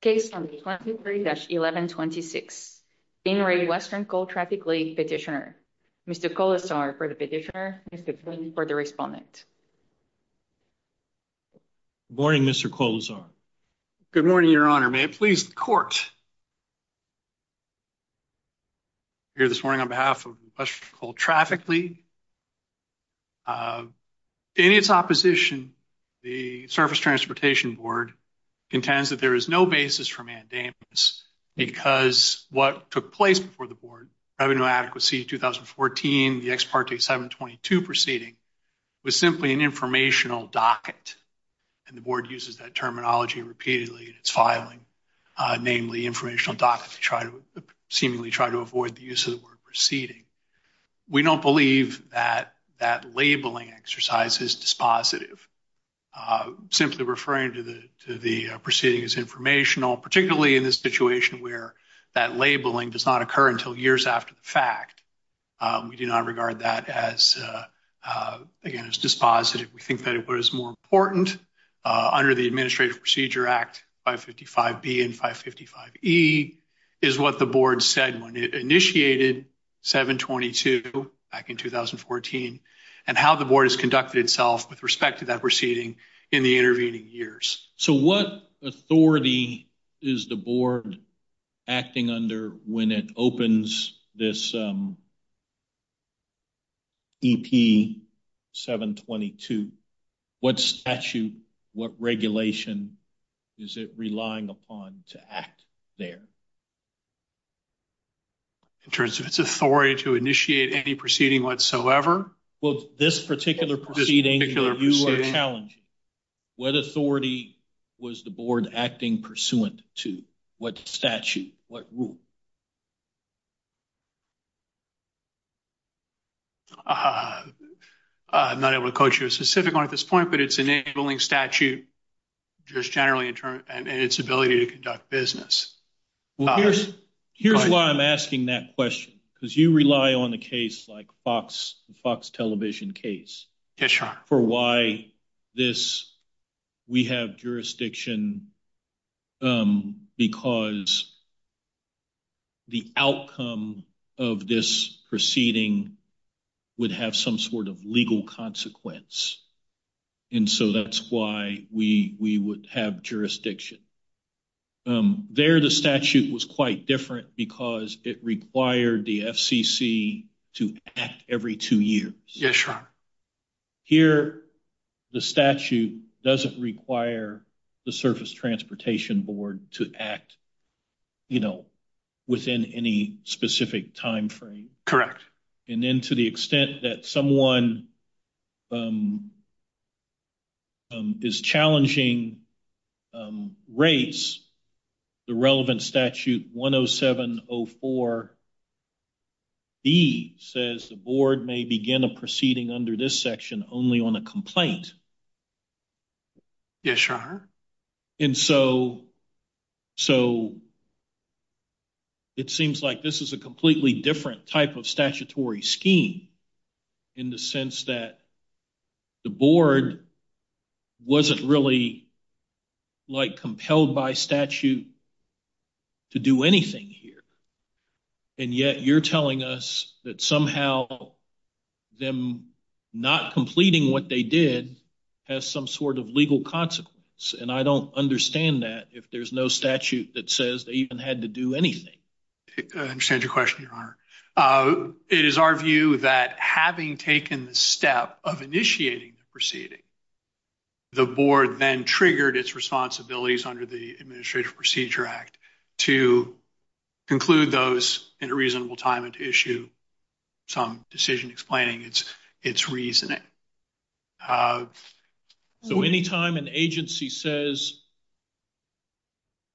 Case number 23-1126, Bain Raid Western Coal Traffic League, Petitioner. Mr. Colasar for the Petitioner, Mr. Flynn for the Respondent. Good morning, Mr. Colasar. Good morning, Your Honor. May it please the Court hear this morning on behalf of Western Coal Traffic League. In its opposition, the Surface Transportation Board contends that there is no basis for mandamus because what took place before the Board, Revenue Inadequacy 2014, the Ex Parte 722 proceeding, was simply an informational docket. And the Board uses that terminology repeatedly in its filing, namely informational docket to try to seemingly try to avoid the use of the word proceeding. We don't believe that that labeling exercise is dispositive, simply referring to the proceeding as informational, particularly in this situation where that labeling does not occur until years after the fact. We do not regard that as, again, as dispositive. We think that what is more important under the Administrative Procedure Act 555B and 555E is what the Board said when it initiated 722 back in 2014 and how the Board has conducted itself with respect to that proceeding in the intervening years. So what authority is the Board acting under when it opens this EP 722? What statute, what regulation is it relying upon to act there? In terms of its authority to initiate any proceeding whatsoever? Well, this particular proceeding that you are challenging, what authority was the Board acting pursuant to? What statute? What rule? I'm not able to quote you a specific one at this point, but it's an enabling statute just generally in terms of its ability to conduct business. Here's why I'm asking that question, because you rely on a case like the Fox television case for why this, we have jurisdiction because the outcome of this proceeding would have some sort of legal consequence. And so that's why we would have jurisdiction. There, the statute was quite different because it required the FCC to act every two years. Here, the statute doesn't require the Surface Transportation Board to act, you know, within any specific timeframe. Correct. And then to the extent that someone is challenging rates, the relevant statute 10704B says the Board may begin a proceeding under this section only on a complaint. Yes, Your Honor. And so it seems like this is a completely different type of statutory scheme in the sense that the Board wasn't really, like, compelled by statute to do anything here. And yet you're telling us that somehow them not completing what they did has some sort of legal consequence. And I don't understand that if there's no statute that says they even had to do anything. I understand your question, Your Honor. It is our view that having taken the step of initiating the proceeding, the Board then triggered its responsibilities under the Administrative Procedure Act to conclude those in a reasonable time and to issue some decision explaining its reasoning. So anytime an agency says,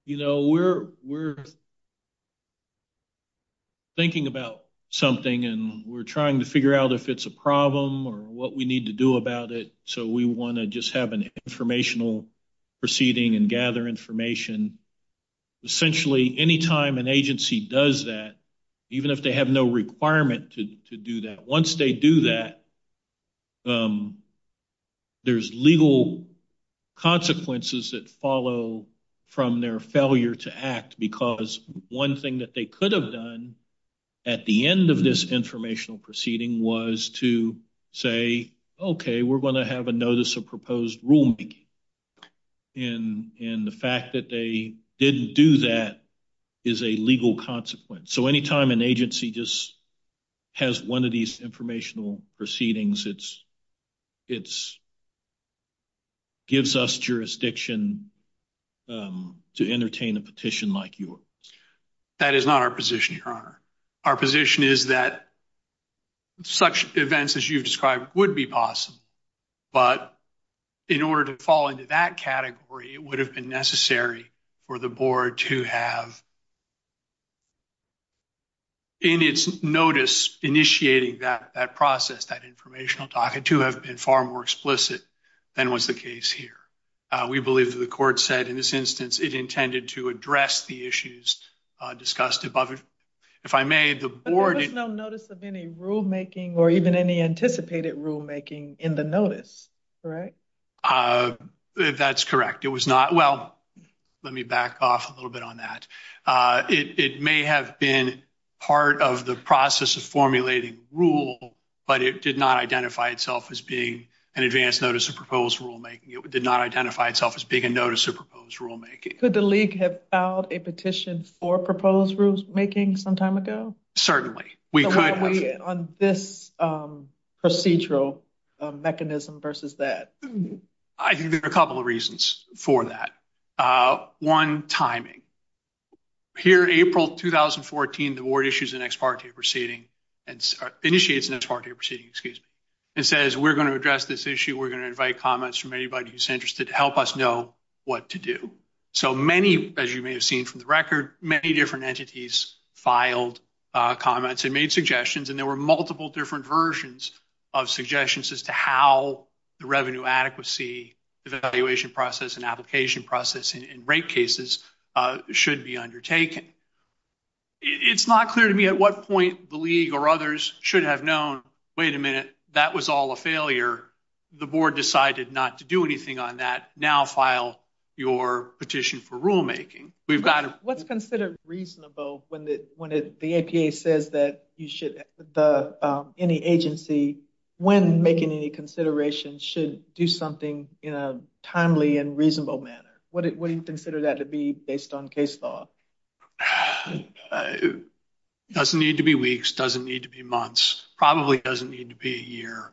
you know, we're thinking about something and we're trying to figure out if it's a problem or what we need to do about it, so we want to just have an informational proceeding and gather information, essentially, anytime an agency does that, even if they have no requirement to do that, once they do that, there's legal consequences that follow from their failure to act because one thing that they could have done at the end of this informational proceeding was to say, okay, we're going to have a notice of proposed rulemaking. And the fact that they didn't do that is a legal consequence. So anytime an agency just has one of these informational proceedings, it gives us jurisdiction to entertain a petition like yours. That is not our position, Your Honor. Our position is that such events as you've described would be possible. But in order to fall into that category, it would have been necessary for the Board to have in its notice initiating that process, that informational document, to have been far more explicit than was the case here. We believe that the Court said in this instance it intended to address the issues discussed above. If I may, the Board... But there was no notice of any rulemaking or even any anticipated rulemaking in the notice, correct? That's correct. It was not. Well, let me back off a little bit on that. It may have been part of the process of formulating rule, but it did not identify itself as being an advance notice of proposed rulemaking. It did not identify itself as being a notice of proposed rulemaking. Could the League have filed a petition for proposed rulemaking some time ago? Certainly. So why are we on this procedural mechanism versus that? I think there are a couple of reasons for that. One, timing. Here in April 2014, the Board issues an ex parte proceeding, initiates an ex parte proceeding, excuse me, and says we're going to address this issue. We're going to invite comments from anybody who's interested to help us know what to do. So many, as you may have seen from the record, many different entities filed comments and made suggestions, and there were multiple different versions of suggestions as to how the revenue adequacy evaluation process and application process in rate cases should be undertaken. It's not clear to me at what point the League or others should have known, wait a minute, that was all a failure. The Board decided not to do anything on that. Now file your petition for rulemaking. What's considered reasonable when the APA says that any agency, when making any considerations, should do something in a timely and reasonable manner? What do you consider that to be based on case law? It doesn't need to be weeks. It doesn't need to be months. It probably doesn't need to be a year.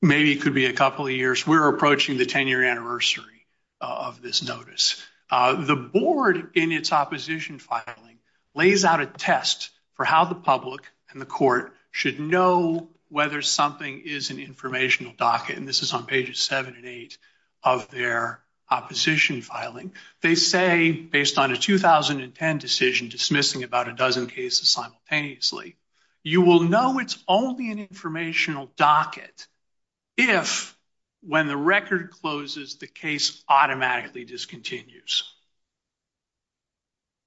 Maybe it could be a couple of years. We're approaching the 10-year anniversary of this notice. The Board, in its opposition filing, lays out a test for how the public and the court should know whether something is an informational docket, and this is on pages 7 and 8 of their opposition filing. They say, based on a 2010 decision dismissing about a dozen cases simultaneously, you will know it's only an informational docket if, when the record closes, the case automatically discontinues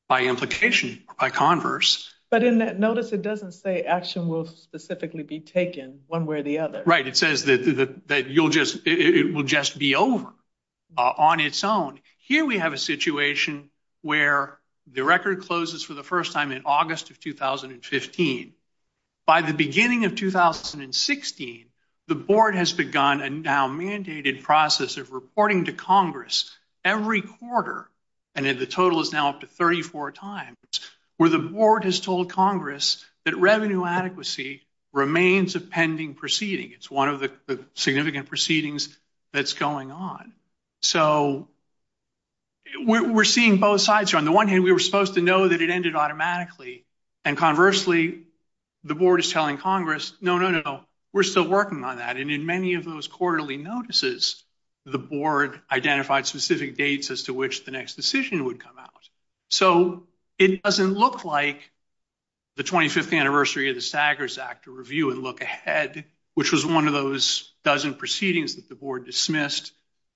by implication or by converse. But in that notice, it doesn't say action will specifically be taken one way or the other. Right. It says that it will just be over on its own. Here we have a situation where the record closes for the first time in August of 2015. By the beginning of 2016, the Board has begun a now-mandated process of reporting to Congress every quarter, and the total is now up to 34 times, where the Board has told Congress that revenue adequacy remains a pending proceeding. It's one of the significant proceedings that's going on. So we're seeing both sides here. On the one hand, we were supposed to know that it ended automatically, and conversely, the Board is telling Congress, no, no, no, we're still working on that. And in many of those quarterly notices, the Board identified specific dates as to which the next decision would come out. So it doesn't look like the 25th anniversary of the Staggers Act to review and look ahead, which was one of those dozen proceedings that the Board dismissed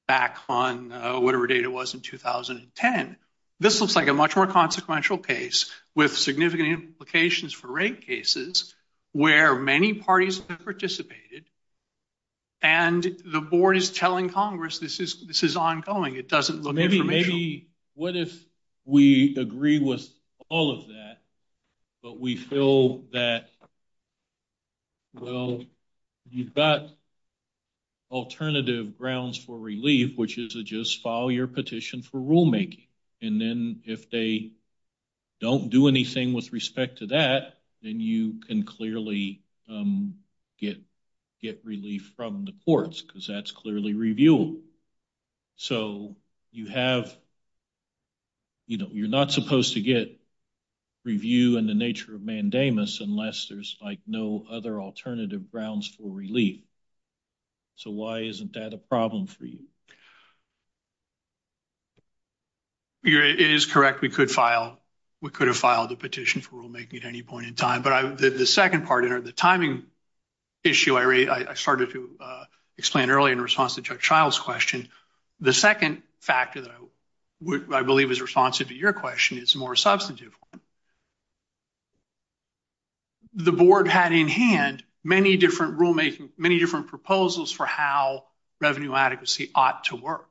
back on whatever date it was in 2010. This looks like a much more consequential case with significant implications for rate cases where many parties have participated, and the Board is telling Congress this is ongoing. It doesn't look informational. What if we agree with all of that, but we feel that, well, you've got alternative grounds for relief, which is to just file your petition for rulemaking, and then if they don't do anything with respect to that, then you can clearly get relief from the courts, because that's clearly reviewed. So you have, you know, you're not supposed to get review in the nature of mandamus unless there's, like, no other alternative grounds for relief. So why isn't that a problem for you? It is correct. We could file, we could have filed a petition for rulemaking at any point in time. But the second part, the timing issue I started to explain earlier in response to Judge Child's question, the second factor that I believe is responsive to your question is more substantive. The Board had in hand many different rulemaking, many different proposals for how revenue adequacy ought to work.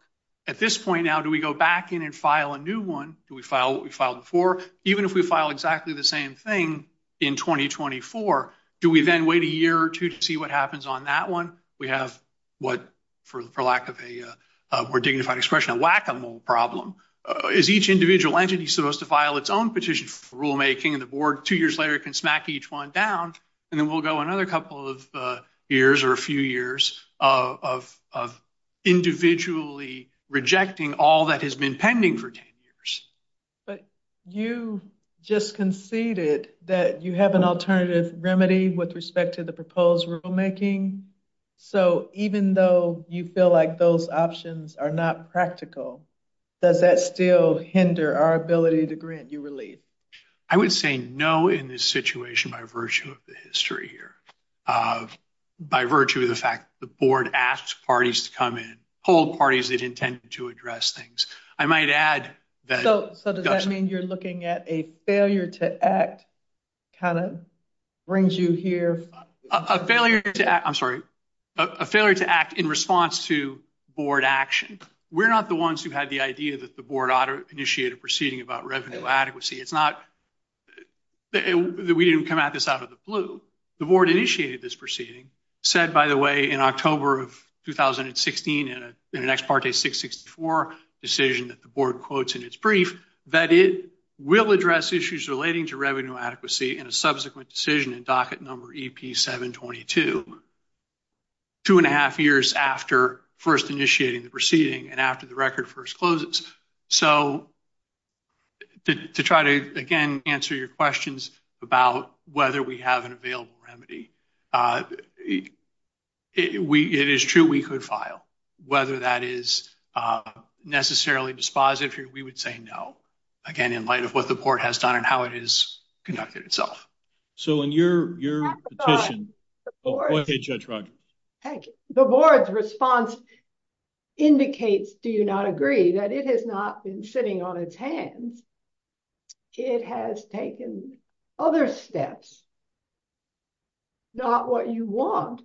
At this point now, do we go back in and file a new one? Do we file what we filed before? Even if we file exactly the same thing in 2024, do we then wait a year or two to see what happens on that one? We have what, for lack of a more dignified expression, a whack-a-mole problem. Is each individual entity supposed to file its own petition for rulemaking, and the Board two years later can smack each one down, and then we'll go another couple of years or a few years of individually rejecting all that has been pending for 10 years. But you just conceded that you have an alternative remedy with respect to the proposed rulemaking. So even though you feel like those options are not practical, does that still hinder our ability to grant you relief? I would say no in this situation by virtue of the history here, by virtue of the fact that the Board asked parties to come in, polled parties that intended to address things. I might add that – So does that mean you're looking at a failure to act kind of brings you here? A failure to act, I'm sorry, a failure to act in response to Board action. We're not the ones who had the idea that the Board ought to initiate a proceeding about revenue adequacy. It's not that we didn't come at this out of the blue. The Board initiated this proceeding, said, by the way, in October of 2016 in an ex parte 664 decision that the Board quotes in its brief that it will address issues relating to revenue adequacy in a subsequent decision in docket number EP722. Two and a half years after first initiating the proceeding and after the record first closes. So to try to, again, answer your questions about whether we have an available remedy, it is true we could file. Whether that is necessarily dispositive, we would say no. Again, in light of what the Board has done and how it is conducted itself. So in your petition, okay Judge Rodgers. The Board's response indicates, do you not agree, that it has not been sitting on its hands. It has taken other steps. Not what you want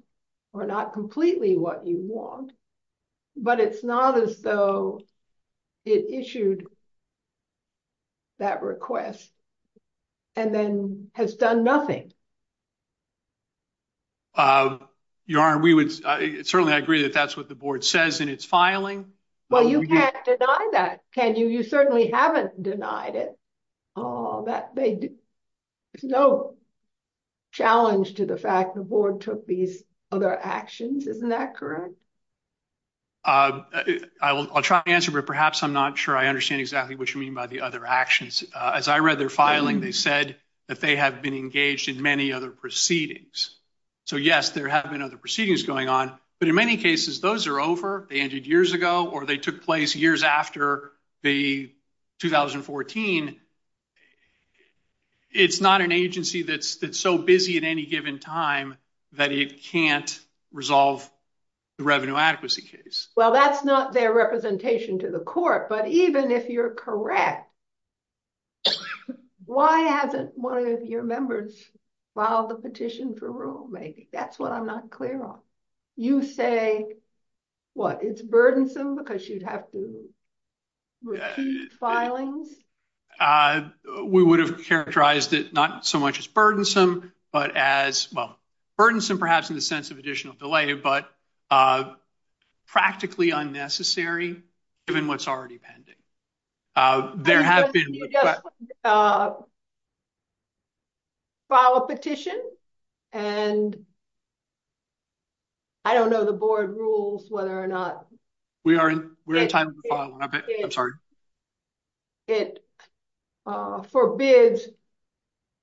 or not completely what you want, but it's not as though it issued that request and then has done nothing. Certainly, I agree that that's what the Board says in its filing. Well, you can't deny that, can you? You certainly haven't denied it. There's no challenge to the fact the Board took these other actions. Isn't that correct? I'll try to answer, but perhaps I'm not sure I understand exactly what you mean by the other actions. As I read their filing, they said that they have been engaged in many other proceedings. So, yes, there have been other proceedings going on. But in many cases, those are over. They ended years ago or they took place years after the 2014. It's not an agency that's so busy at any given time that it can't resolve the revenue adequacy case. Well, that's not their representation to the court. But even if you're correct, why hasn't one of your members filed the petition for rulemaking? That's what I'm not clear on. You say, what, it's burdensome because you'd have to repeat filings? We would have characterized it not so much as burdensome, but as, well, burdensome perhaps in the sense of additional delay, but practically unnecessary given what's already pending. There have been... File a petition and I don't know the Board rules whether or not... We are in time to file one. I'm sorry. It forbids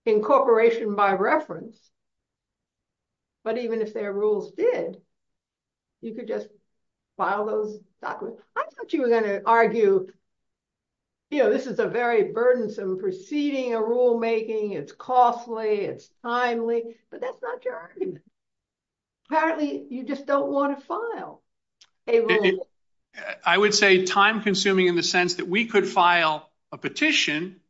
incorporation by reference. But even if their rules did, you could just file those documents. I thought you were going to argue, you know, this is a very burdensome proceeding, a rulemaking, it's costly, it's timely, but that's not your argument. Apparently, you just don't want to file. I would say time consuming in the sense that we could file a petition.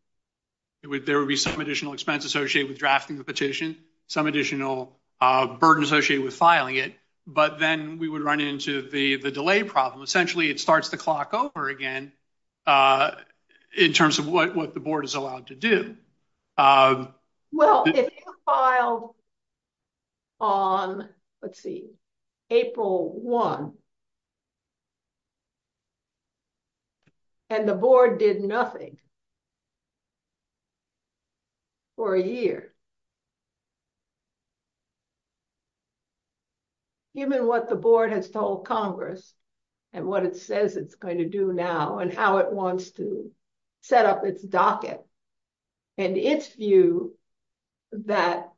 There would be some additional expense associated with drafting the petition, some additional burden associated with filing it. But then we would run into the delay problem. Essentially, it starts the clock over again in terms of what the Board is allowed to do. Well, if you filed on, let's see, April 1, and the Board did nothing for a year, given what the Board has told Congress and what it says it's going to do now and how it wants to set up its docket, and its view that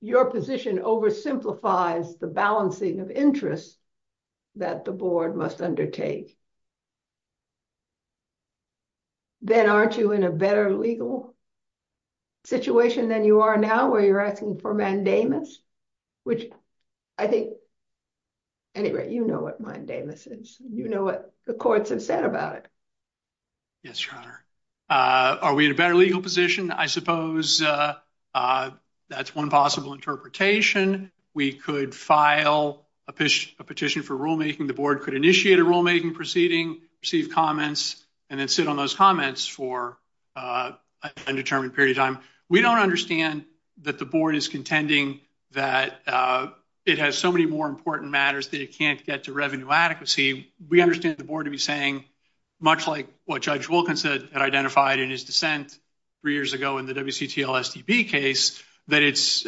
your position oversimplifies the balancing of interests that the Board must undertake, then aren't you in a better legal situation than you are now where you're asking for mandamus? Which I think, anyway, you know what mandamus is. You know what the courts have said about it. Yes, Your Honor. Are we in a better legal position? I suppose that's one possible interpretation. We could file a petition for rulemaking. The Board could initiate a rulemaking proceeding, receive comments, and then sit on those comments for an undetermined period of time. We don't understand that the Board is contending that it has so many more important matters that it can't get to revenue adequacy. We understand the Board to be saying, much like what Judge Wilkins had identified in his dissent three years ago in the WCTL-STB case, that it's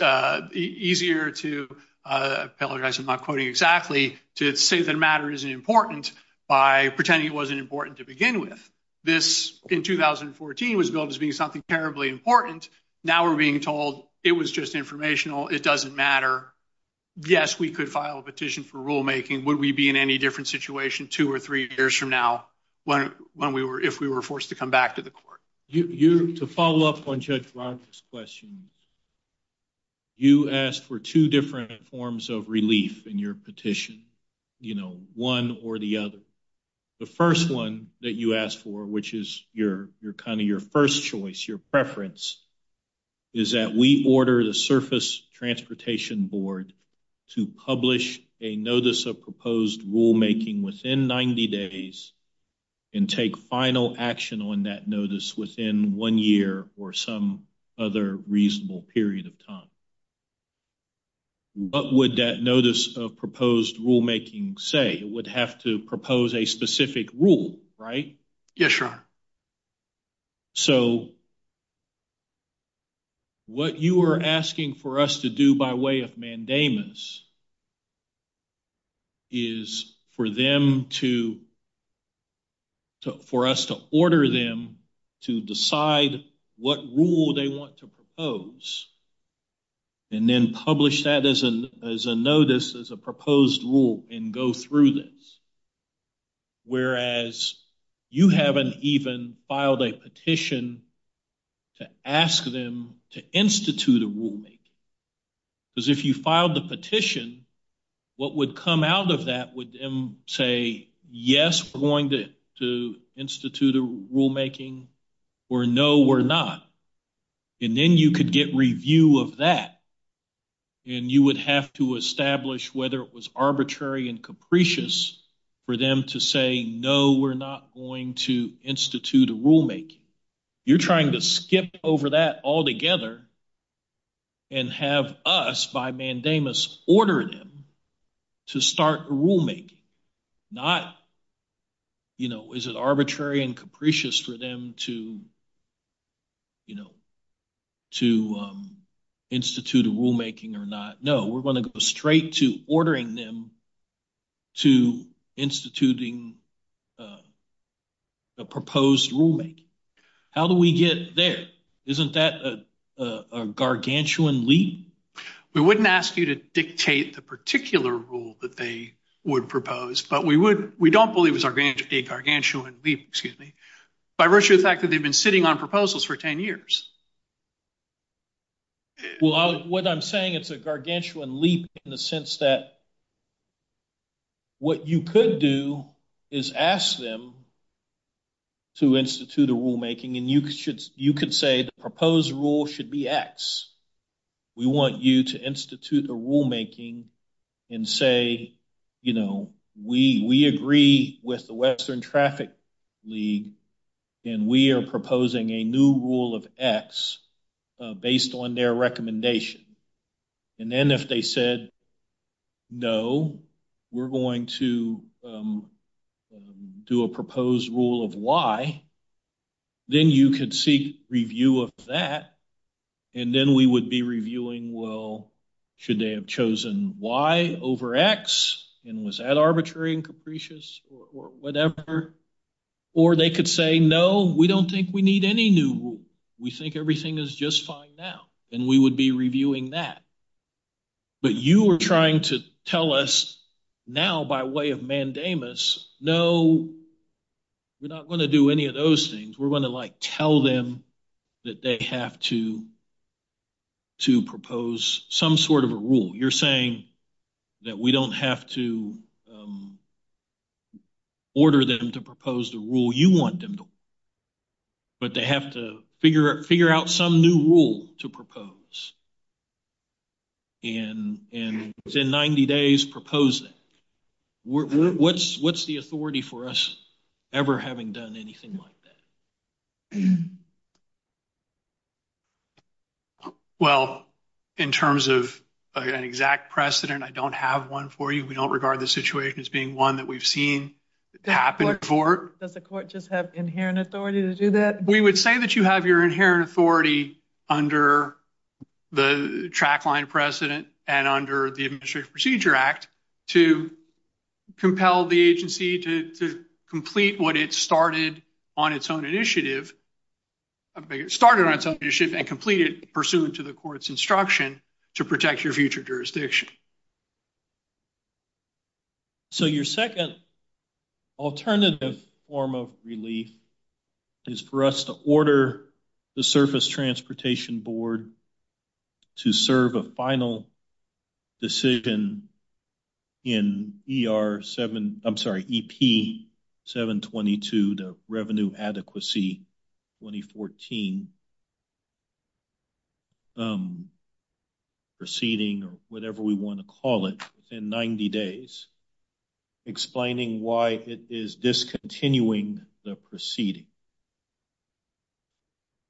easier to—apologize, I'm not quoting exactly—to say that a matter isn't important by pretending it wasn't important to begin with. This, in 2014, was billed as being something terribly important. Now we're being told it was just informational, it doesn't matter. Yes, we could file a petition for rulemaking. Would we be in any different situation two or three years from now if we were forced to come back to the Court? To follow up on Judge Roberts' question, you asked for two different forms of relief in your petition, one or the other. The first one that you asked for, which is kind of your first choice, your preference, is that we order the Surface Transportation Board to publish a notice of proposed rulemaking within 90 days and take final action on that notice within one year or some other reasonable period of time. What would that notice of proposed rulemaking say? It would have to propose a specific rule, right? Yes, Your Honor. So, what you are asking for us to do by way of mandamus is for us to order them to decide what rule they want to propose and then publish that as a notice, as a proposed rule, and go through this. Whereas, you haven't even filed a petition to ask them to institute a rulemaking. Because if you filed a petition, what would come out of that would say, yes, we're going to institute a rulemaking, or no, we're not. And then you could get review of that, and you would have to establish whether it was arbitrary and capricious for them to say, no, we're not going to institute a rulemaking. You're trying to skip over that altogether and have us, by mandamus, order them to start a rulemaking. Not, you know, is it arbitrary and capricious for them to, you know, to institute a rulemaking or not. No, we're going to go straight to ordering them to instituting a proposed rulemaking. How do we get there? Isn't that a gargantuan leap? We wouldn't ask you to dictate the particular rule that they would propose, but we don't believe it's a gargantuan leap, excuse me, by virtue of the fact that they've been sitting on proposals for 10 years. Well, what I'm saying, it's a gargantuan leap in the sense that what you could do is ask them to institute a rulemaking, and you could say the proposed rule should be X. We want you to institute a rulemaking and say, you know, we agree with the Western Traffic League, and we are proposing a new rule of X based on their recommendation. And then if they said, no, we're going to do a proposed rule of Y, then you could seek review of that, and then we would be reviewing, well, should they have chosen Y over X, and was that arbitrary and capricious or whatever? Or they could say, no, we don't think we need any new rule. We think everything is just fine now, and we would be reviewing that. But you are trying to tell us now by way of mandamus, no, we're not going to do any of those things. We're going to, like, tell them that they have to propose some sort of a rule. You're saying that we don't have to order them to propose the rule you want them to, but they have to figure out some new rule to propose, and within 90 days, propose it. What's the authority for us ever having done anything like that? Well, in terms of an exact precedent, I don't have one for you. We don't regard the situation as being one that we've seen happen before. Does the court just have inherent authority to do that? We would say that you have your inherent authority under the track line precedent and under the Administrative Procedure Act to compel the agency to complete what it started on its own initiative and complete it pursuant to the court's instruction to protect your future jurisdiction. So your second alternative form of relief is for us to order the Surface Transportation Board to serve a final decision in ER 7, I'm sorry, EP 722, the Revenue Adequacy 2014 proceeding, or whatever we want to call it, in 90 days, explaining why it is discontinuing the proceeding.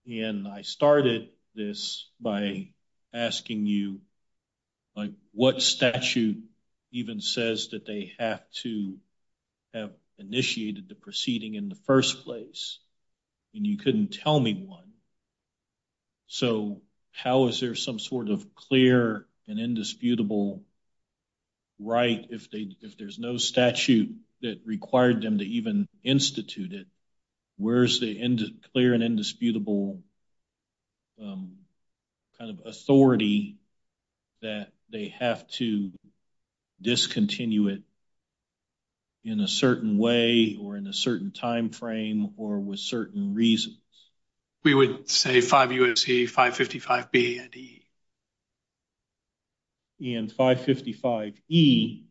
And I started this by asking you, like, what statute even says that they have to have initiated the proceeding in the first place? And you couldn't tell me one. So how is there some sort of clear and indisputable right if there's no statute that required them to even institute it, where's the clear and indisputable kind of authority that they have to discontinue it in a certain way or in a certain time frame or with certain reasons? We would say 5 U.S.C. 555 B and E. And 555 E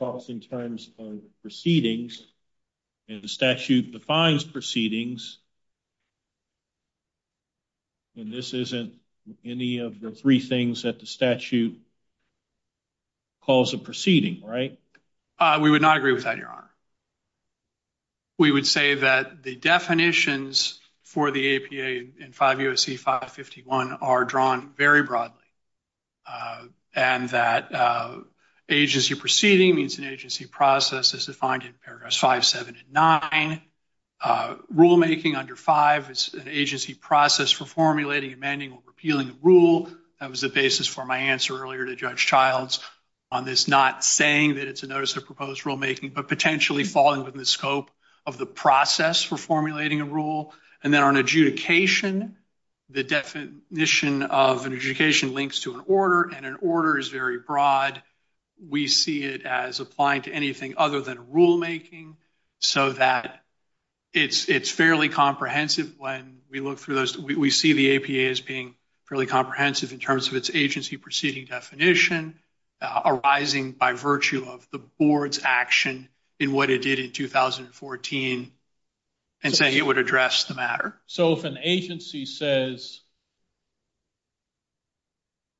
talks in terms of proceedings and the statute defines proceedings and this isn't any of the three things that the statute calls a proceeding, right? We would not agree with that, Your Honor. We would say that the definitions for the APA in 5 U.S.C. 551 are drawn very broadly and that agency proceeding means an agency process as defined in paragraphs 5, 7, and 9. Rulemaking under 5 is an agency process for formulating, amending, or repealing a rule. That was the basis for my answer earlier to Judge Childs on this not saying that it's a notice of proposed rulemaking, but potentially falling within the scope of the process for formulating a rule. And then on adjudication, the definition of an adjudication links to an order and an order is very broad. We see it as applying to anything other than rulemaking so that it's fairly comprehensive when we look through those. We see the APA as being fairly comprehensive in terms of its agency proceeding definition arising by virtue of the board's action in what it did in 2014 and say it would address the matter. So if an agency says,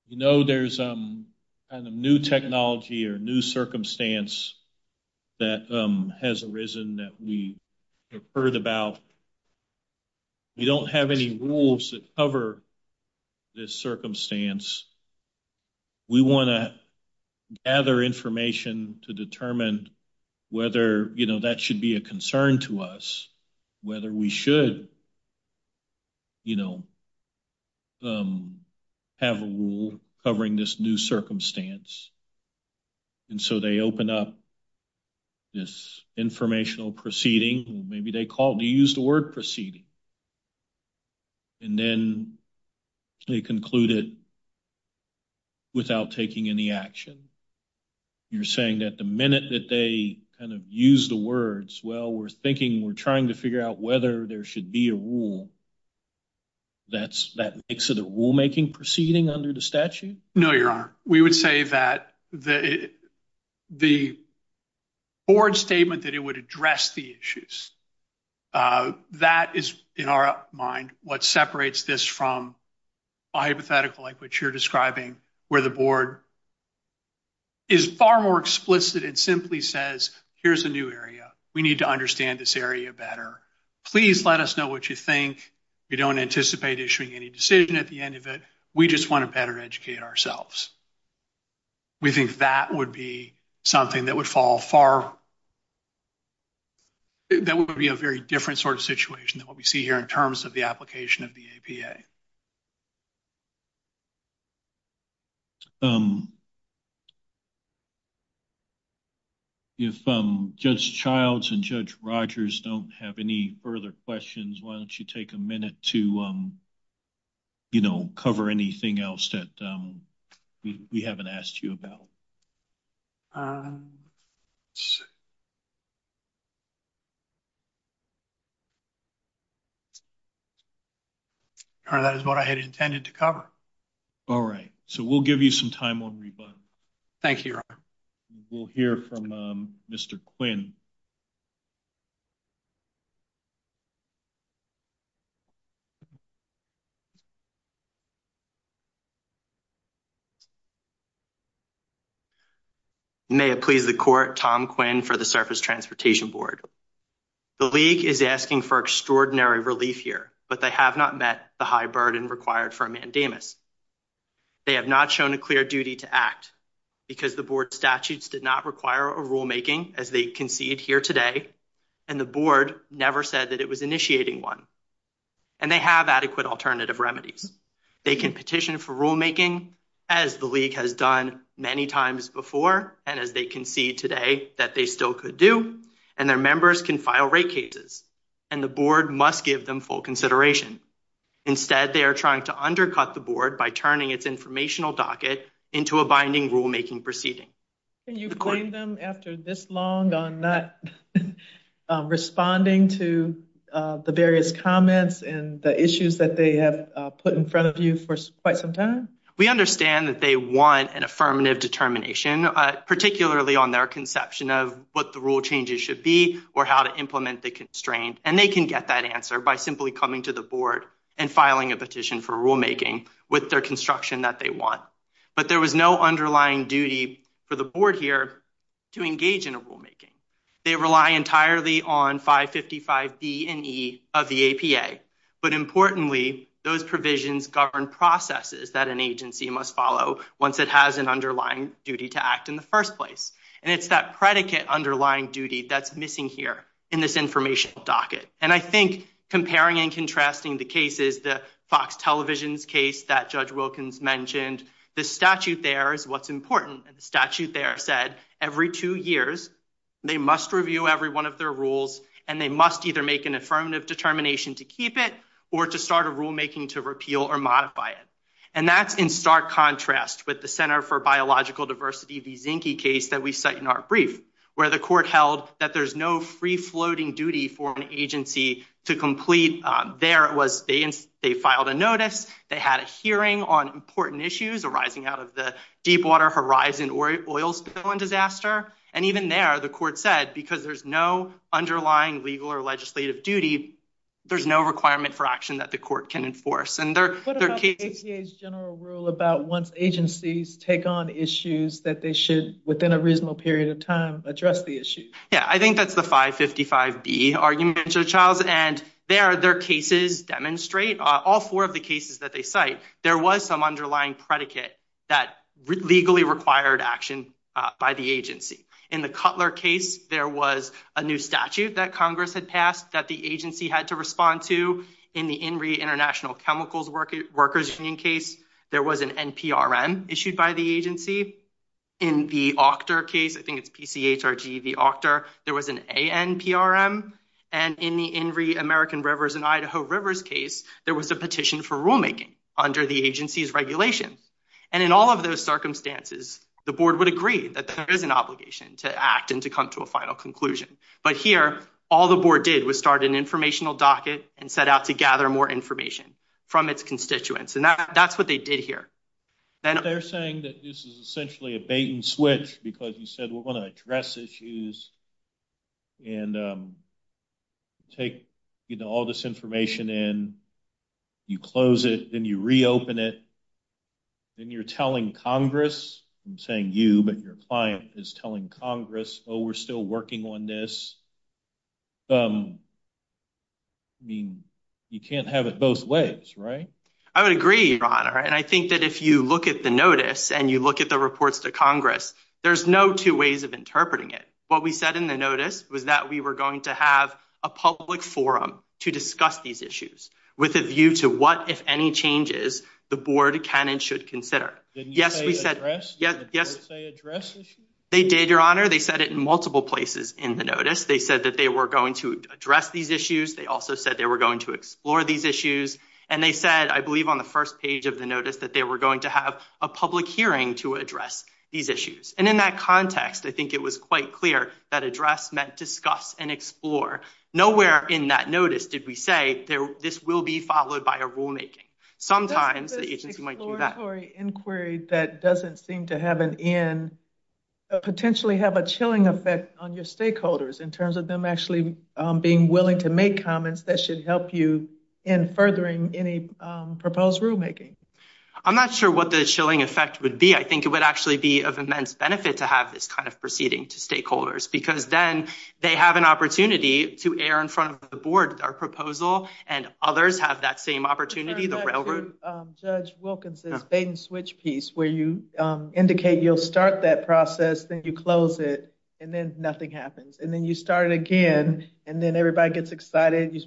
you know, there's kind of new technology or new circumstance that has arisen that we have heard about, we don't have any rules that cover this circumstance, we want to gather information to determine whether, you know, that should be a concern to us, whether we should, you know, have a rule covering this new circumstance. And so they open up this informational proceeding, maybe they call it, they use the word proceeding. And then they conclude it without taking any action. You're saying that the minute that they kind of use the words, well, we're thinking, we're trying to figure out whether there should be a rule that makes it a rulemaking proceeding under the statute? No, Your Honor, we would say that the board statement that it would address the issues, that is, in our mind, what separates this from a hypothetical like what you're describing where the board is far more explicit and simply says, here's a new area, we need to understand this area better. Please let us know what you think. We don't anticipate issuing any decision at the end of it. We just want to better educate ourselves. We think that would be something that would fall far, that would be a very different sort of situation than what we see here in terms of the application of the APA. Thank you. If Judge Childs and Judge Rogers don't have any further questions, why don't you take a minute to cover anything else that we haven't asked you about? That is what I had intended to cover. All right, so we'll give you some time on rebuttal. Thank you, Your Honor. We'll hear from Mr. Quinn. May it please the Court, Tom Quinn for the Surface Transportation Board. The League is asking for extraordinary relief here, but they have not met the high burden required for a mandamus. They have not shown a clear duty to act because the Board's statutes did not require a rulemaking, as they concede here today, and the Board never said that it was initiating one. And they have adequate alternative remedies. They can petition for rulemaking, as the League has done many times before, and as they concede today, that they still could do, and their members can file rate cases, and the Board must give them full consideration. Instead, they are trying to undercut the Board by turning its informational docket into a binding rulemaking proceeding. Can you blame them after this long on not responding to the various comments and the issues that they have put in front of you for quite some time? We understand that they want an affirmative determination, particularly on their conception of what the rule changes should be or how to implement the constraint, and they can get that answer by simply coming to the Board and filing a petition for rulemaking with their construction that they want. But there was no underlying duty for the Board here to engage in a rulemaking. They rely entirely on 555B and E of the APA, but importantly, those provisions govern processes that an agency must follow once it has an underlying duty to act in the first place, and it's that predicate underlying duty that's missing here in this informational docket. And I think comparing and contrasting the cases, the Fox Television case that Judge Wilkins mentioned, the statute there is what's important. The statute there said every two years, they must review every one of their rules, and they must either make an affirmative determination to keep it or to start a rulemaking to repeal or modify it. And that's in stark contrast with the Center for Biological Diversity v. Zinke case that we cite in our brief that there's no free-floating duty for an agency to complete. There, they filed a notice. They had a hearing on important issues arising out of the Deepwater Horizon oil spill and disaster. And even there, the court said because there's no underlying legal or legislative duty, there's no requirement for action that the court can enforce. And there are cases... What about the APA's general rule about once agencies take on issues that they should, within a reasonable period of time, address the issue? Yeah, I think that's the 555B argument, Charles. And there, their cases demonstrate, all four of the cases that they cite, there was some underlying predicate that legally required action by the agency. In the Cutler case, there was a new statute that Congress had passed that the agency had to respond to. In the INRI International Chemicals Workers' Union case, there was an NPRM issued by the agency. In the OCHTR case, I think it's P-C-H-R-G-E-V, OCHTR, there was an ANPRM. And in the INRI American Rivers and Idaho Rivers case, there was a petition for rulemaking under the agency's regulations. And in all of those circumstances, the board would agree that there is an obligation to act and to come to a final conclusion. But here, all the board did was start an informational docket and set out to gather more information from its constituents. And that's what they did here. They're saying that this is essentially a bait and switch because you said we're going to address issues and take, you know, all this information in, you close it, then you reopen it, then you're telling Congress, I'm saying you, but your client, is telling Congress, oh, we're still working on this. I would agree, Your Honor. And I think that if you look at the notice and you look at the reports to Congress, there's no two ways of interpreting it. What we said in the notice was that we were going to have a public forum to discuss these issues with a view to what, if any changes, the board can and should consider. Yes, we said, yes, yes. They did, Your Honor. They said it in multiple places in the notice. They said that they were going to address these issues. They also said they were going to explore these issues. And they said, I believe on the first page of the notice that they were going to have a public hearing to address these issues. And in that context, I think it was quite clear that address meant discuss and explore. Nowhere in that notice did we say this will be followed by a rulemaking. Sometimes the agency might do that. Doesn't this exploratory inquiry that doesn't seem to have an end potentially have a chilling effect on your stakeholders in terms of them actually being willing to make comments that should help you in furthering any proposed rulemaking? I'm not sure what the chilling effect would be. I think it would actually be of immense benefit to have this kind of proceeding to stakeholders because then they have an opportunity to err in front of the board. Our proposal and others have that same opportunity, the railroad. Judge Wilkinson's bait-and-switch piece where you indicate you'll start that process, then you close it, and then nothing happens. And then you start it again, and then everybody gets excited. And then you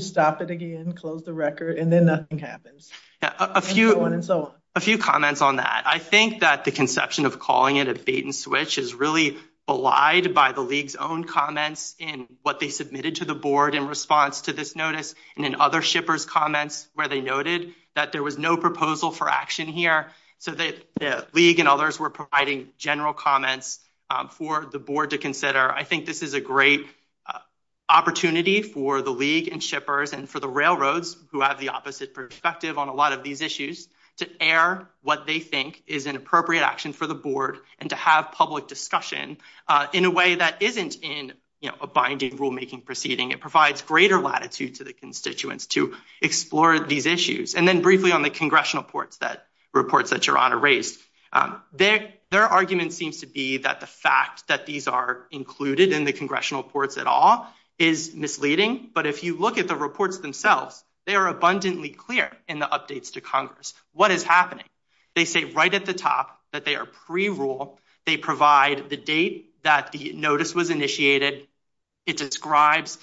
stop it again, close the record, and then nothing happens. And so on and so on. A few comments on that. I think that the conception of calling it a bait-and-switch is really belied by the League's own comments in what they submitted to the board in response to this notice and in other shippers' comments where they noted that there was no proposal for action here. So the League and others were providing general comments for the board to consider. for the board and shippers and for the railroads who have the opposite perspective on a lot of these issues to err what they think is an appropriate action for the board and to have public discussion in a way that isn't in a binding rulemaking proceeding. It provides greater latitude to the constituents to explore these issues. And then briefly on the congressional reports that Your Honor raised, their argument seems to be that the fact that these are included in the congressional reports at all is misleading. But if you look at the reports themselves, they are abundantly clear in the updates to Congress. What is happening? They say right at the top that they are pre-rule. They provide the date that the notice was initiated. It describes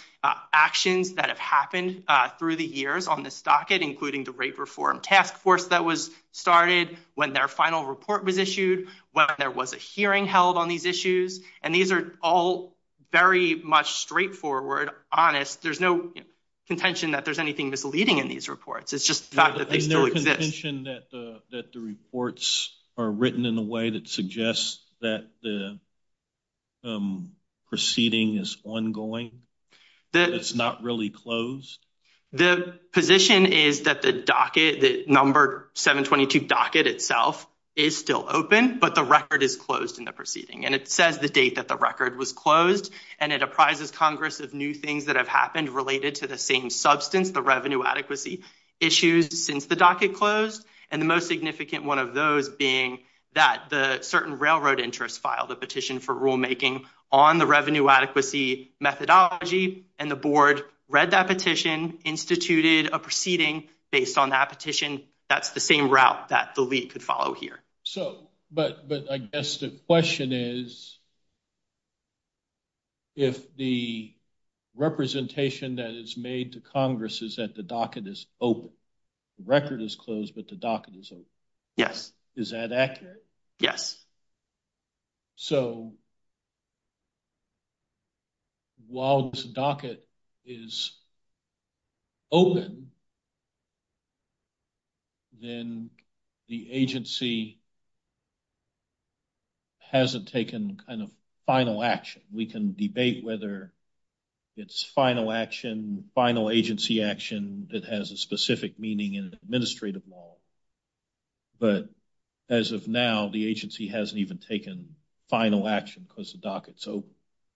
actions that have happened through the years on this docket, including the rape reform task force that was started, when their final report was issued, when there was a hearing held on these issues. And these are all very much straightforward, honest. There's no contention that there's anything misleading in these reports. It's just the fact that they still exist. Is there contention that the reports are written in a way that suggests that the proceeding is ongoing? That it's not really closed? The position is that the docket, the number 722 docket itself, is still open, but the record is closed in the proceeding. And it says the date that the record was closed, and it apprises Congress of new things that have happened related to the same substance, the revenue adequacy issues since the docket closed. And the most significant one of those being that the certain railroad interests filed a petition for rulemaking on the revenue adequacy methodology, and the board read that petition, and in the proceeding, based on that petition, that's the same route that the lead could follow here. But I guess the question is, if the representation that is made to Congress is that the docket is open, the record is closed, but the docket is open, is that accurate? Yes. So, while this docket is open, then the agency hasn't taken kind of final action. We can debate whether it's final action, final agency action that has a specific meaning in an administrative model, but as of now, the agency hasn't even taken final action because the docket's open.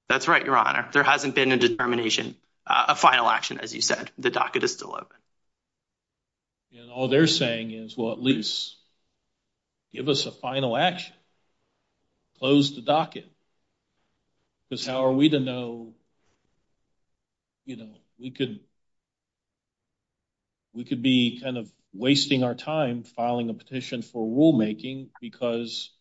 That's right, Your Honor. There hasn't been a determination, a final action, as you said. The docket is still open. And all they're saying is, well, at least give us a final action. Close the docket. Because how are we to know, you know, we could, we could be kind of wasting our time filing a petition for rulemaking because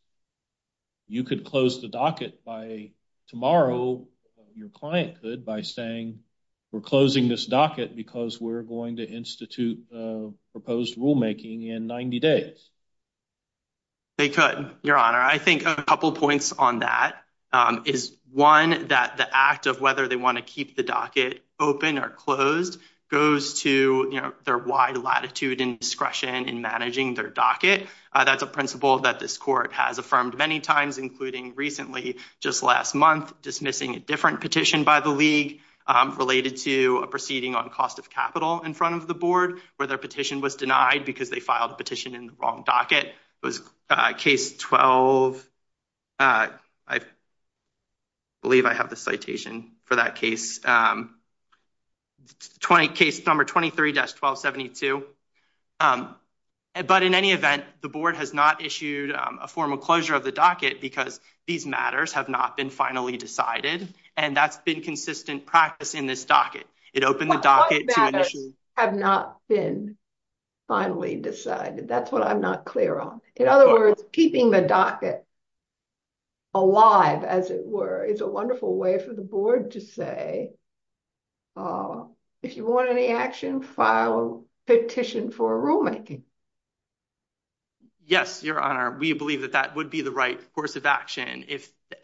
you could close the docket by tomorrow, or your client could by saying we're closing this docket because we're going to institute proposed rulemaking in 90 days. They could, Your Honor. I think a couple points on that is, one, that the act of whether they want to keep the docket open or closed goes to their wide latitude and discretion in managing their docket. That's a principle that this court has affirmed many times, including recently, just last month, dismissing a different petition by the league related to a proceeding on cost of capital in front of the board where their petition was denied because they filed a petition in the wrong docket. It was case 12. I believe I have the citation for that case. Case number 23-1272. But in any event, the board has not issued a formal closure of the docket because the matters have not been finally decided. And that's been consistent practice in this docket. It opened the docket to an issue. The matters have not been finally decided. That's what I'm not clear on. In other words, keeping the docket alive, as it were, is a wonderful way for the board to say, if you want any action, file a petition for rulemaking. Yes, Your Honor. I don't think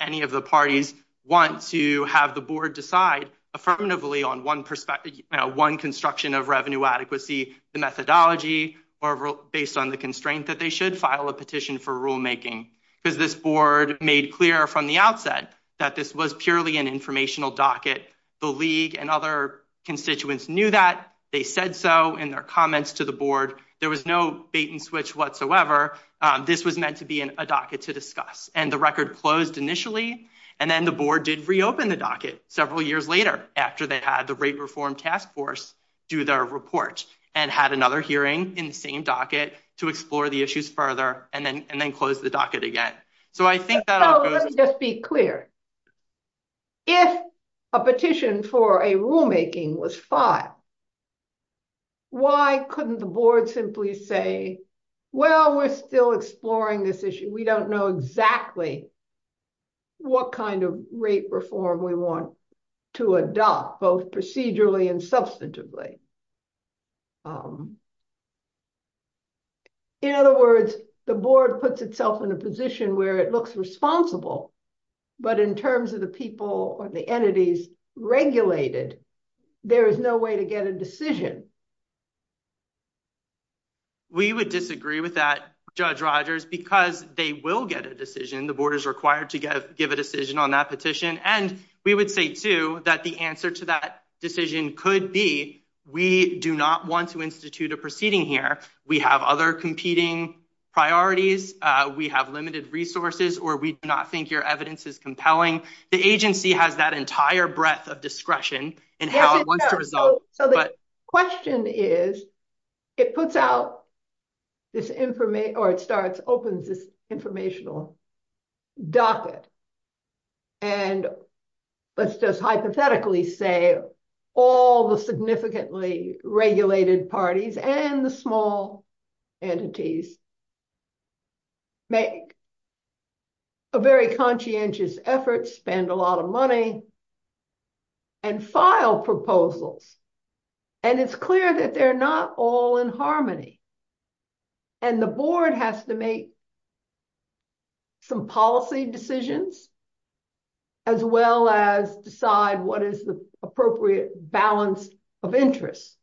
any of the parties want to have the board decide affirmatively on one perspective, one construction of revenue adequacy, the methodology, or based on the constraint that they should file a petition for rulemaking because this board made clear from the outset that this was purely an informational docket. The league and other constituents knew that they said so in their comments to the board. There was no bait and switch whatsoever. This was meant to be and then the board did reopen the docket several years later after they had the rate reform task force do their report and had another hearing in the same docket to explore the issues further and then close the docket again. Let me just be clear. If a petition for a rulemaking was filed, why couldn't the board simply say, well, we're still exploring this issue. We don't know exactly what kind of rate reform we want to adopt both procedurally and substantively. In other words, the board puts itself in a position where it looks responsible, but in terms of the people or the entities regulated, there is no way to get a decision. We would disagree with that, Judge Rogers, because they will get a decision. The board is required to give a decision on that petition. We would say, too, that the answer to that decision could be we do not want to institute a proceeding here. We have other competing priorities. We have limited resources or we do not think your evidence is compelling. The agency has that entire breadth of discretion in how it wants to resolve. The question is, it puts out this information or it starts opens this informational docket. Let's just hypothetically say all the significantly regulated parties and the small entities make a very conscientious effort, spend a lot of money and file proposals. It's clear that they're not all in harmony. The board has to make some policy decisions as well as decide what is the appropriate balance of interest.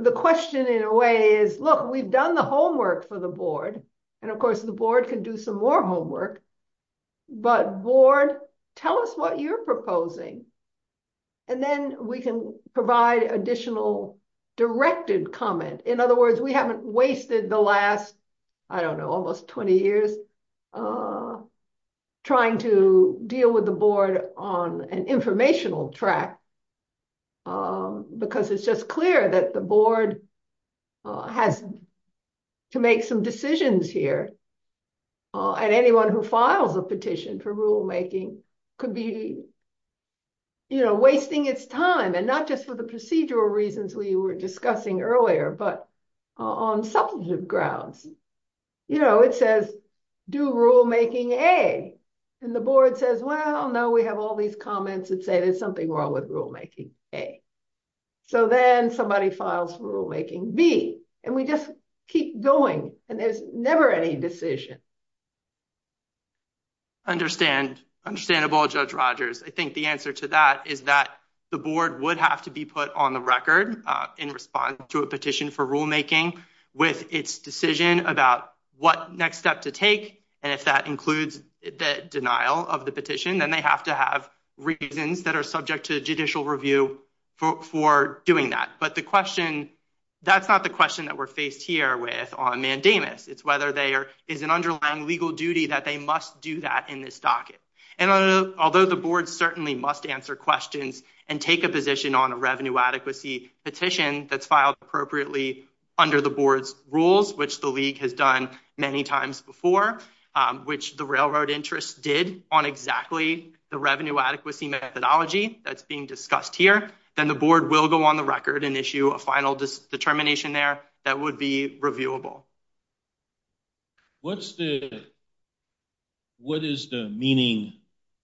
The question in a way is, look, we've done the homework for the board. Of course, the board can do some more homework, but board, tell us what you're proposing. Then we can provide additional directed comment. In other words, we haven't wasted the last, I don't know, almost 20 years trying to deal with the board on an informational track because it's just clear that the board has to make some decisions here. Anyone who files a petition for rulemaking could be wasting its time and not just for the procedural reasons we were discussing earlier, but on substantive grounds. It says, do rulemaking A. The board says, well, no, we have all these comments that say there's something wrong with rulemaking A. Then somebody files for rulemaking B and we just keep going and there's never any decision. Understandable, Judge Rogers. I think the answer to that is that the board would have to be put on the record in response to a petition for rulemaking with its decision about what next step to take. If that includes the denial of the petition, then they have to have reasons that are subject to judicial review for doing that. But the question, that's not the question that we're faced here with on mandamus. It's whether there is an underlying legal duty that they must do that in this docket. Although the board certainly must answer questions and take a position on a revenue adequacy petition that's filed appropriately under the board's rules, which the league has done many times before, which the railroad interest did on exactly the revenue adequacy methodology that's being discussed here, then the board will go on the record and issue a final determination there that would be reviewable. What is the meaning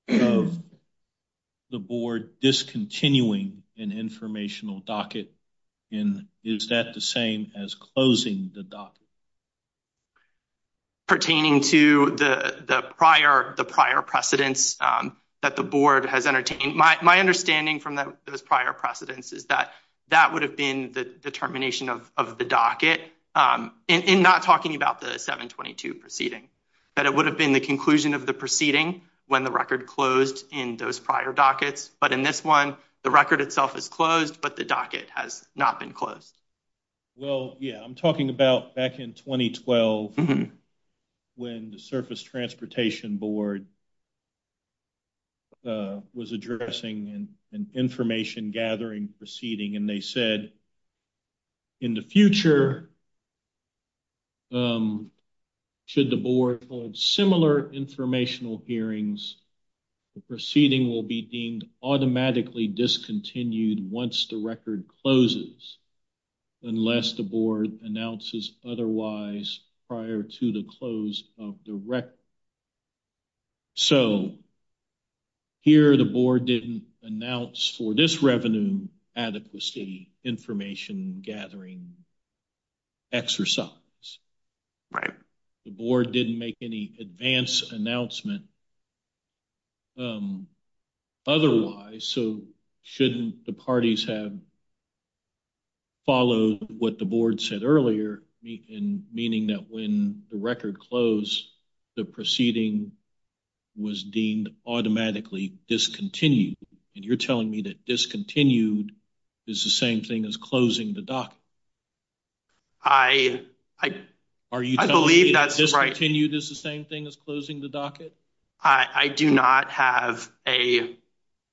of the board discontinuing an informational docket, and is that the same as closing the docket? Pertaining to the prior precedents that the board has entertained, my understanding from those prior precedents is that that would have been the determination of the docket in not talking about the 722 proceeding, that it would have been the conclusion of the proceeding when the record closed in those prior dockets, but in this one the record itself is closed, but the docket has not been closed. Well, yeah, I'm talking about back in 2012 when the Surface Transportation Board was addressing an information gathering proceeding, and they said in the future should the board hold similar informational hearings, the proceeding will be deemed automatically discontinued once the record closes unless the board announces otherwise prior to the close of the record. So, here the board didn't announce for this revenue adequacy information gathering exercise. Right. The board didn't make any advance announcement. So, didn't announce otherwise, so shouldn't the parties have followed what the board said earlier in meaning that when the record closed, the proceeding was deemed automatically discontinued, and you're telling me that discontinued is the same thing as closing the docket? I, I, I believe that's right. Discontinued is the same thing as closing the docket? I, I do not have a,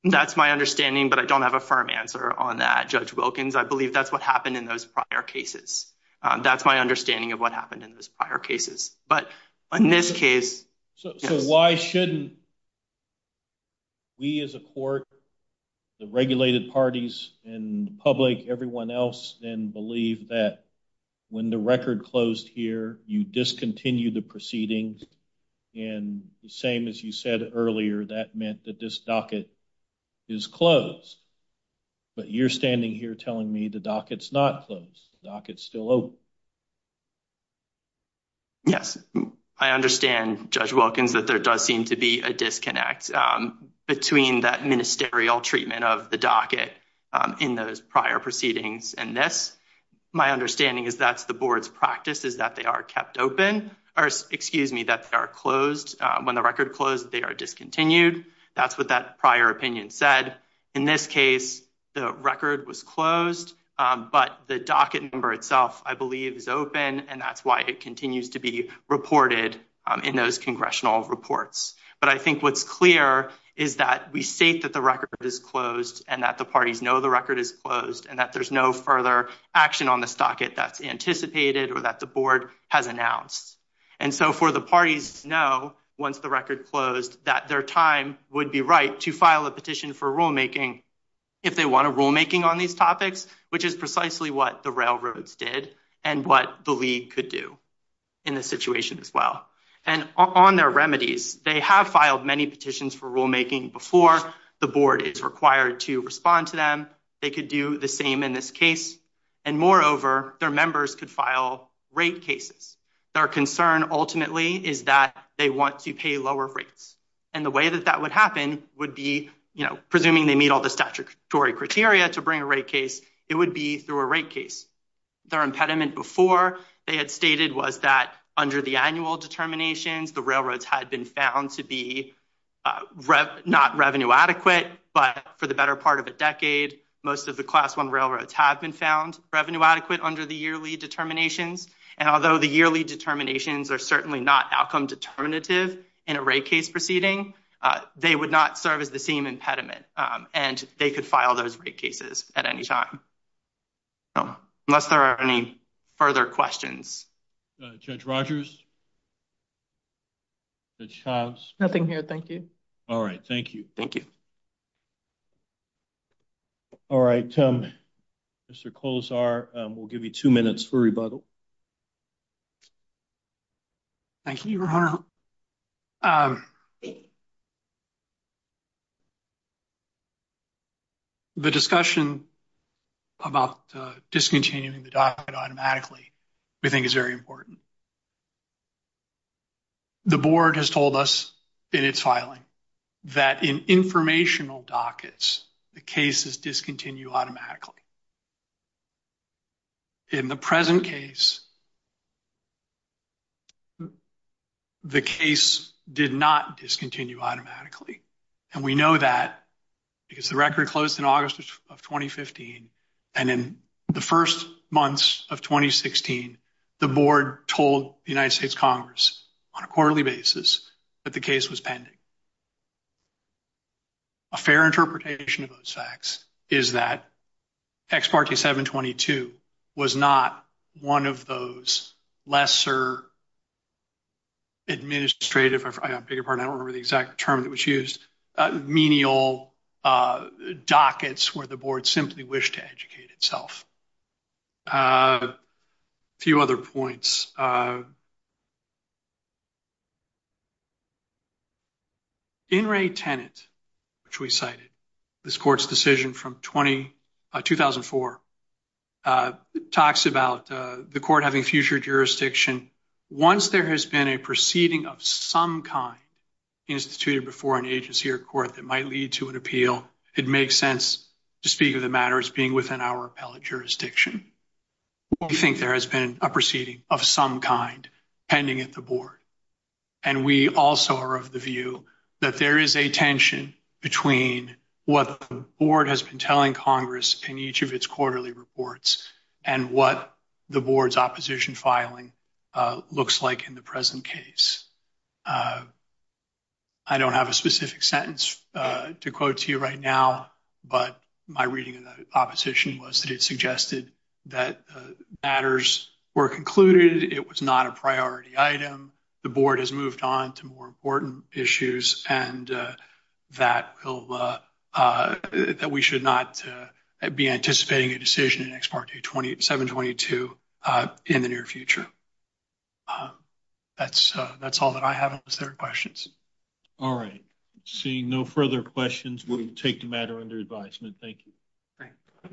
that's my understanding, but I don't have a firm answer on that. Judge Wilkins, I believe that's what happened in those prior cases. That's my understanding of what happened in those prior cases. But, in this case, So, why shouldn't we as a court, the regulated parties, and public, everyone else then believe that when the record closed here, you discontinued the proceedings, and the same as you said earlier, that meant that this docket is closed. But you're standing here telling me the docket's not closed. The docket's still open. Yes. I understand, Judge Wilkins, that there does seem to be a disconnect between that and their proceedings in this. My understanding is that's the board's practice, is that they are kept open, or, excuse me, that they are closed. When the record closed, they are discontinued. That's what that prior opinion said. In this case, the record was closed, but the docket number itself, I believe, is open, and that's why it continues to be reported in those congressional reports. But I think what's clear is that we state that the record is closed and that the parties know the record is closed and that there's no further action on this docket that's anticipated or that the board has announced. And so for the parties to know, once the record closed, that their time would be right to file a petition for rule making, which is precisely what the railroads did and what the league could do in this situation as well. On their remedies, they have filed many petitions for rule making before. The board is required to respond to them. They could do the same in this case. And moreover, their members could file rate cases. Their concern ultimately is that they want to pay lower rates. And the way that that would happen would be, you know, presuming they meet all the statutory criteria to bring a rate case to the board, it would be through a rate case. Their impediment before they had stated was that under the annual determinations the railroads had been found to be not revenue adequate, but for the better part of a decade most of the class 1 railroads have been found to be revenue adequate under the yearly determinations. And although the yearly determinations are certainly not outcome determinative in a rate case proceeding, they would not serve as the same impediment. And they could file those rate cases at any time. Unless there are any further questions. Thank you. Judge Rogers? nothing here, thank you. All right. Thank you. All right, we'll give you 2 minutes for rebuttal. Mr. Kozar. Mr. Rebuttal. Thank you. Your Honor, the discussion about discontinuing the docket automatically we think is very important. The board has told us in its filing that in informational dockets, the cases discontinue automatically. In the present case, the case did not discontinue automatically. And we know that because the record closed in August of 2015 and in the first months of 2016, the board told the United States Congress on a quarterly basis that the case was pending. A fair interpretation of those facts is that the board did not have one of those lesser administrative I don't remember the exact term that was used, menial dockets where the board simply wished to educate itself. A few other points. In re tenant, which we cited, this court's decision from 2004 talks about the court having future jurisdiction. Once there has been a proceeding of some kind instituted before an agency or court that might lead to an appeal, it makes sense to speak of the matter as being within our appellate jurisdiction. We think there has been a process in which the board has been telling Congress in each of its quarterly reports and what the board's opposition filing looks like in the present case. I don't specific sentence to quote to you right now, but my reading of the opposition was that it suggested that matters were concluded, it was not a priority item, the board has moved on to more important issues, and that we should not be anticipating a decision in ex parte 722 in the near future. That's all that I have unless there are questions. All right. Seeing no further questions, we will take the matter under advisement. Thank you.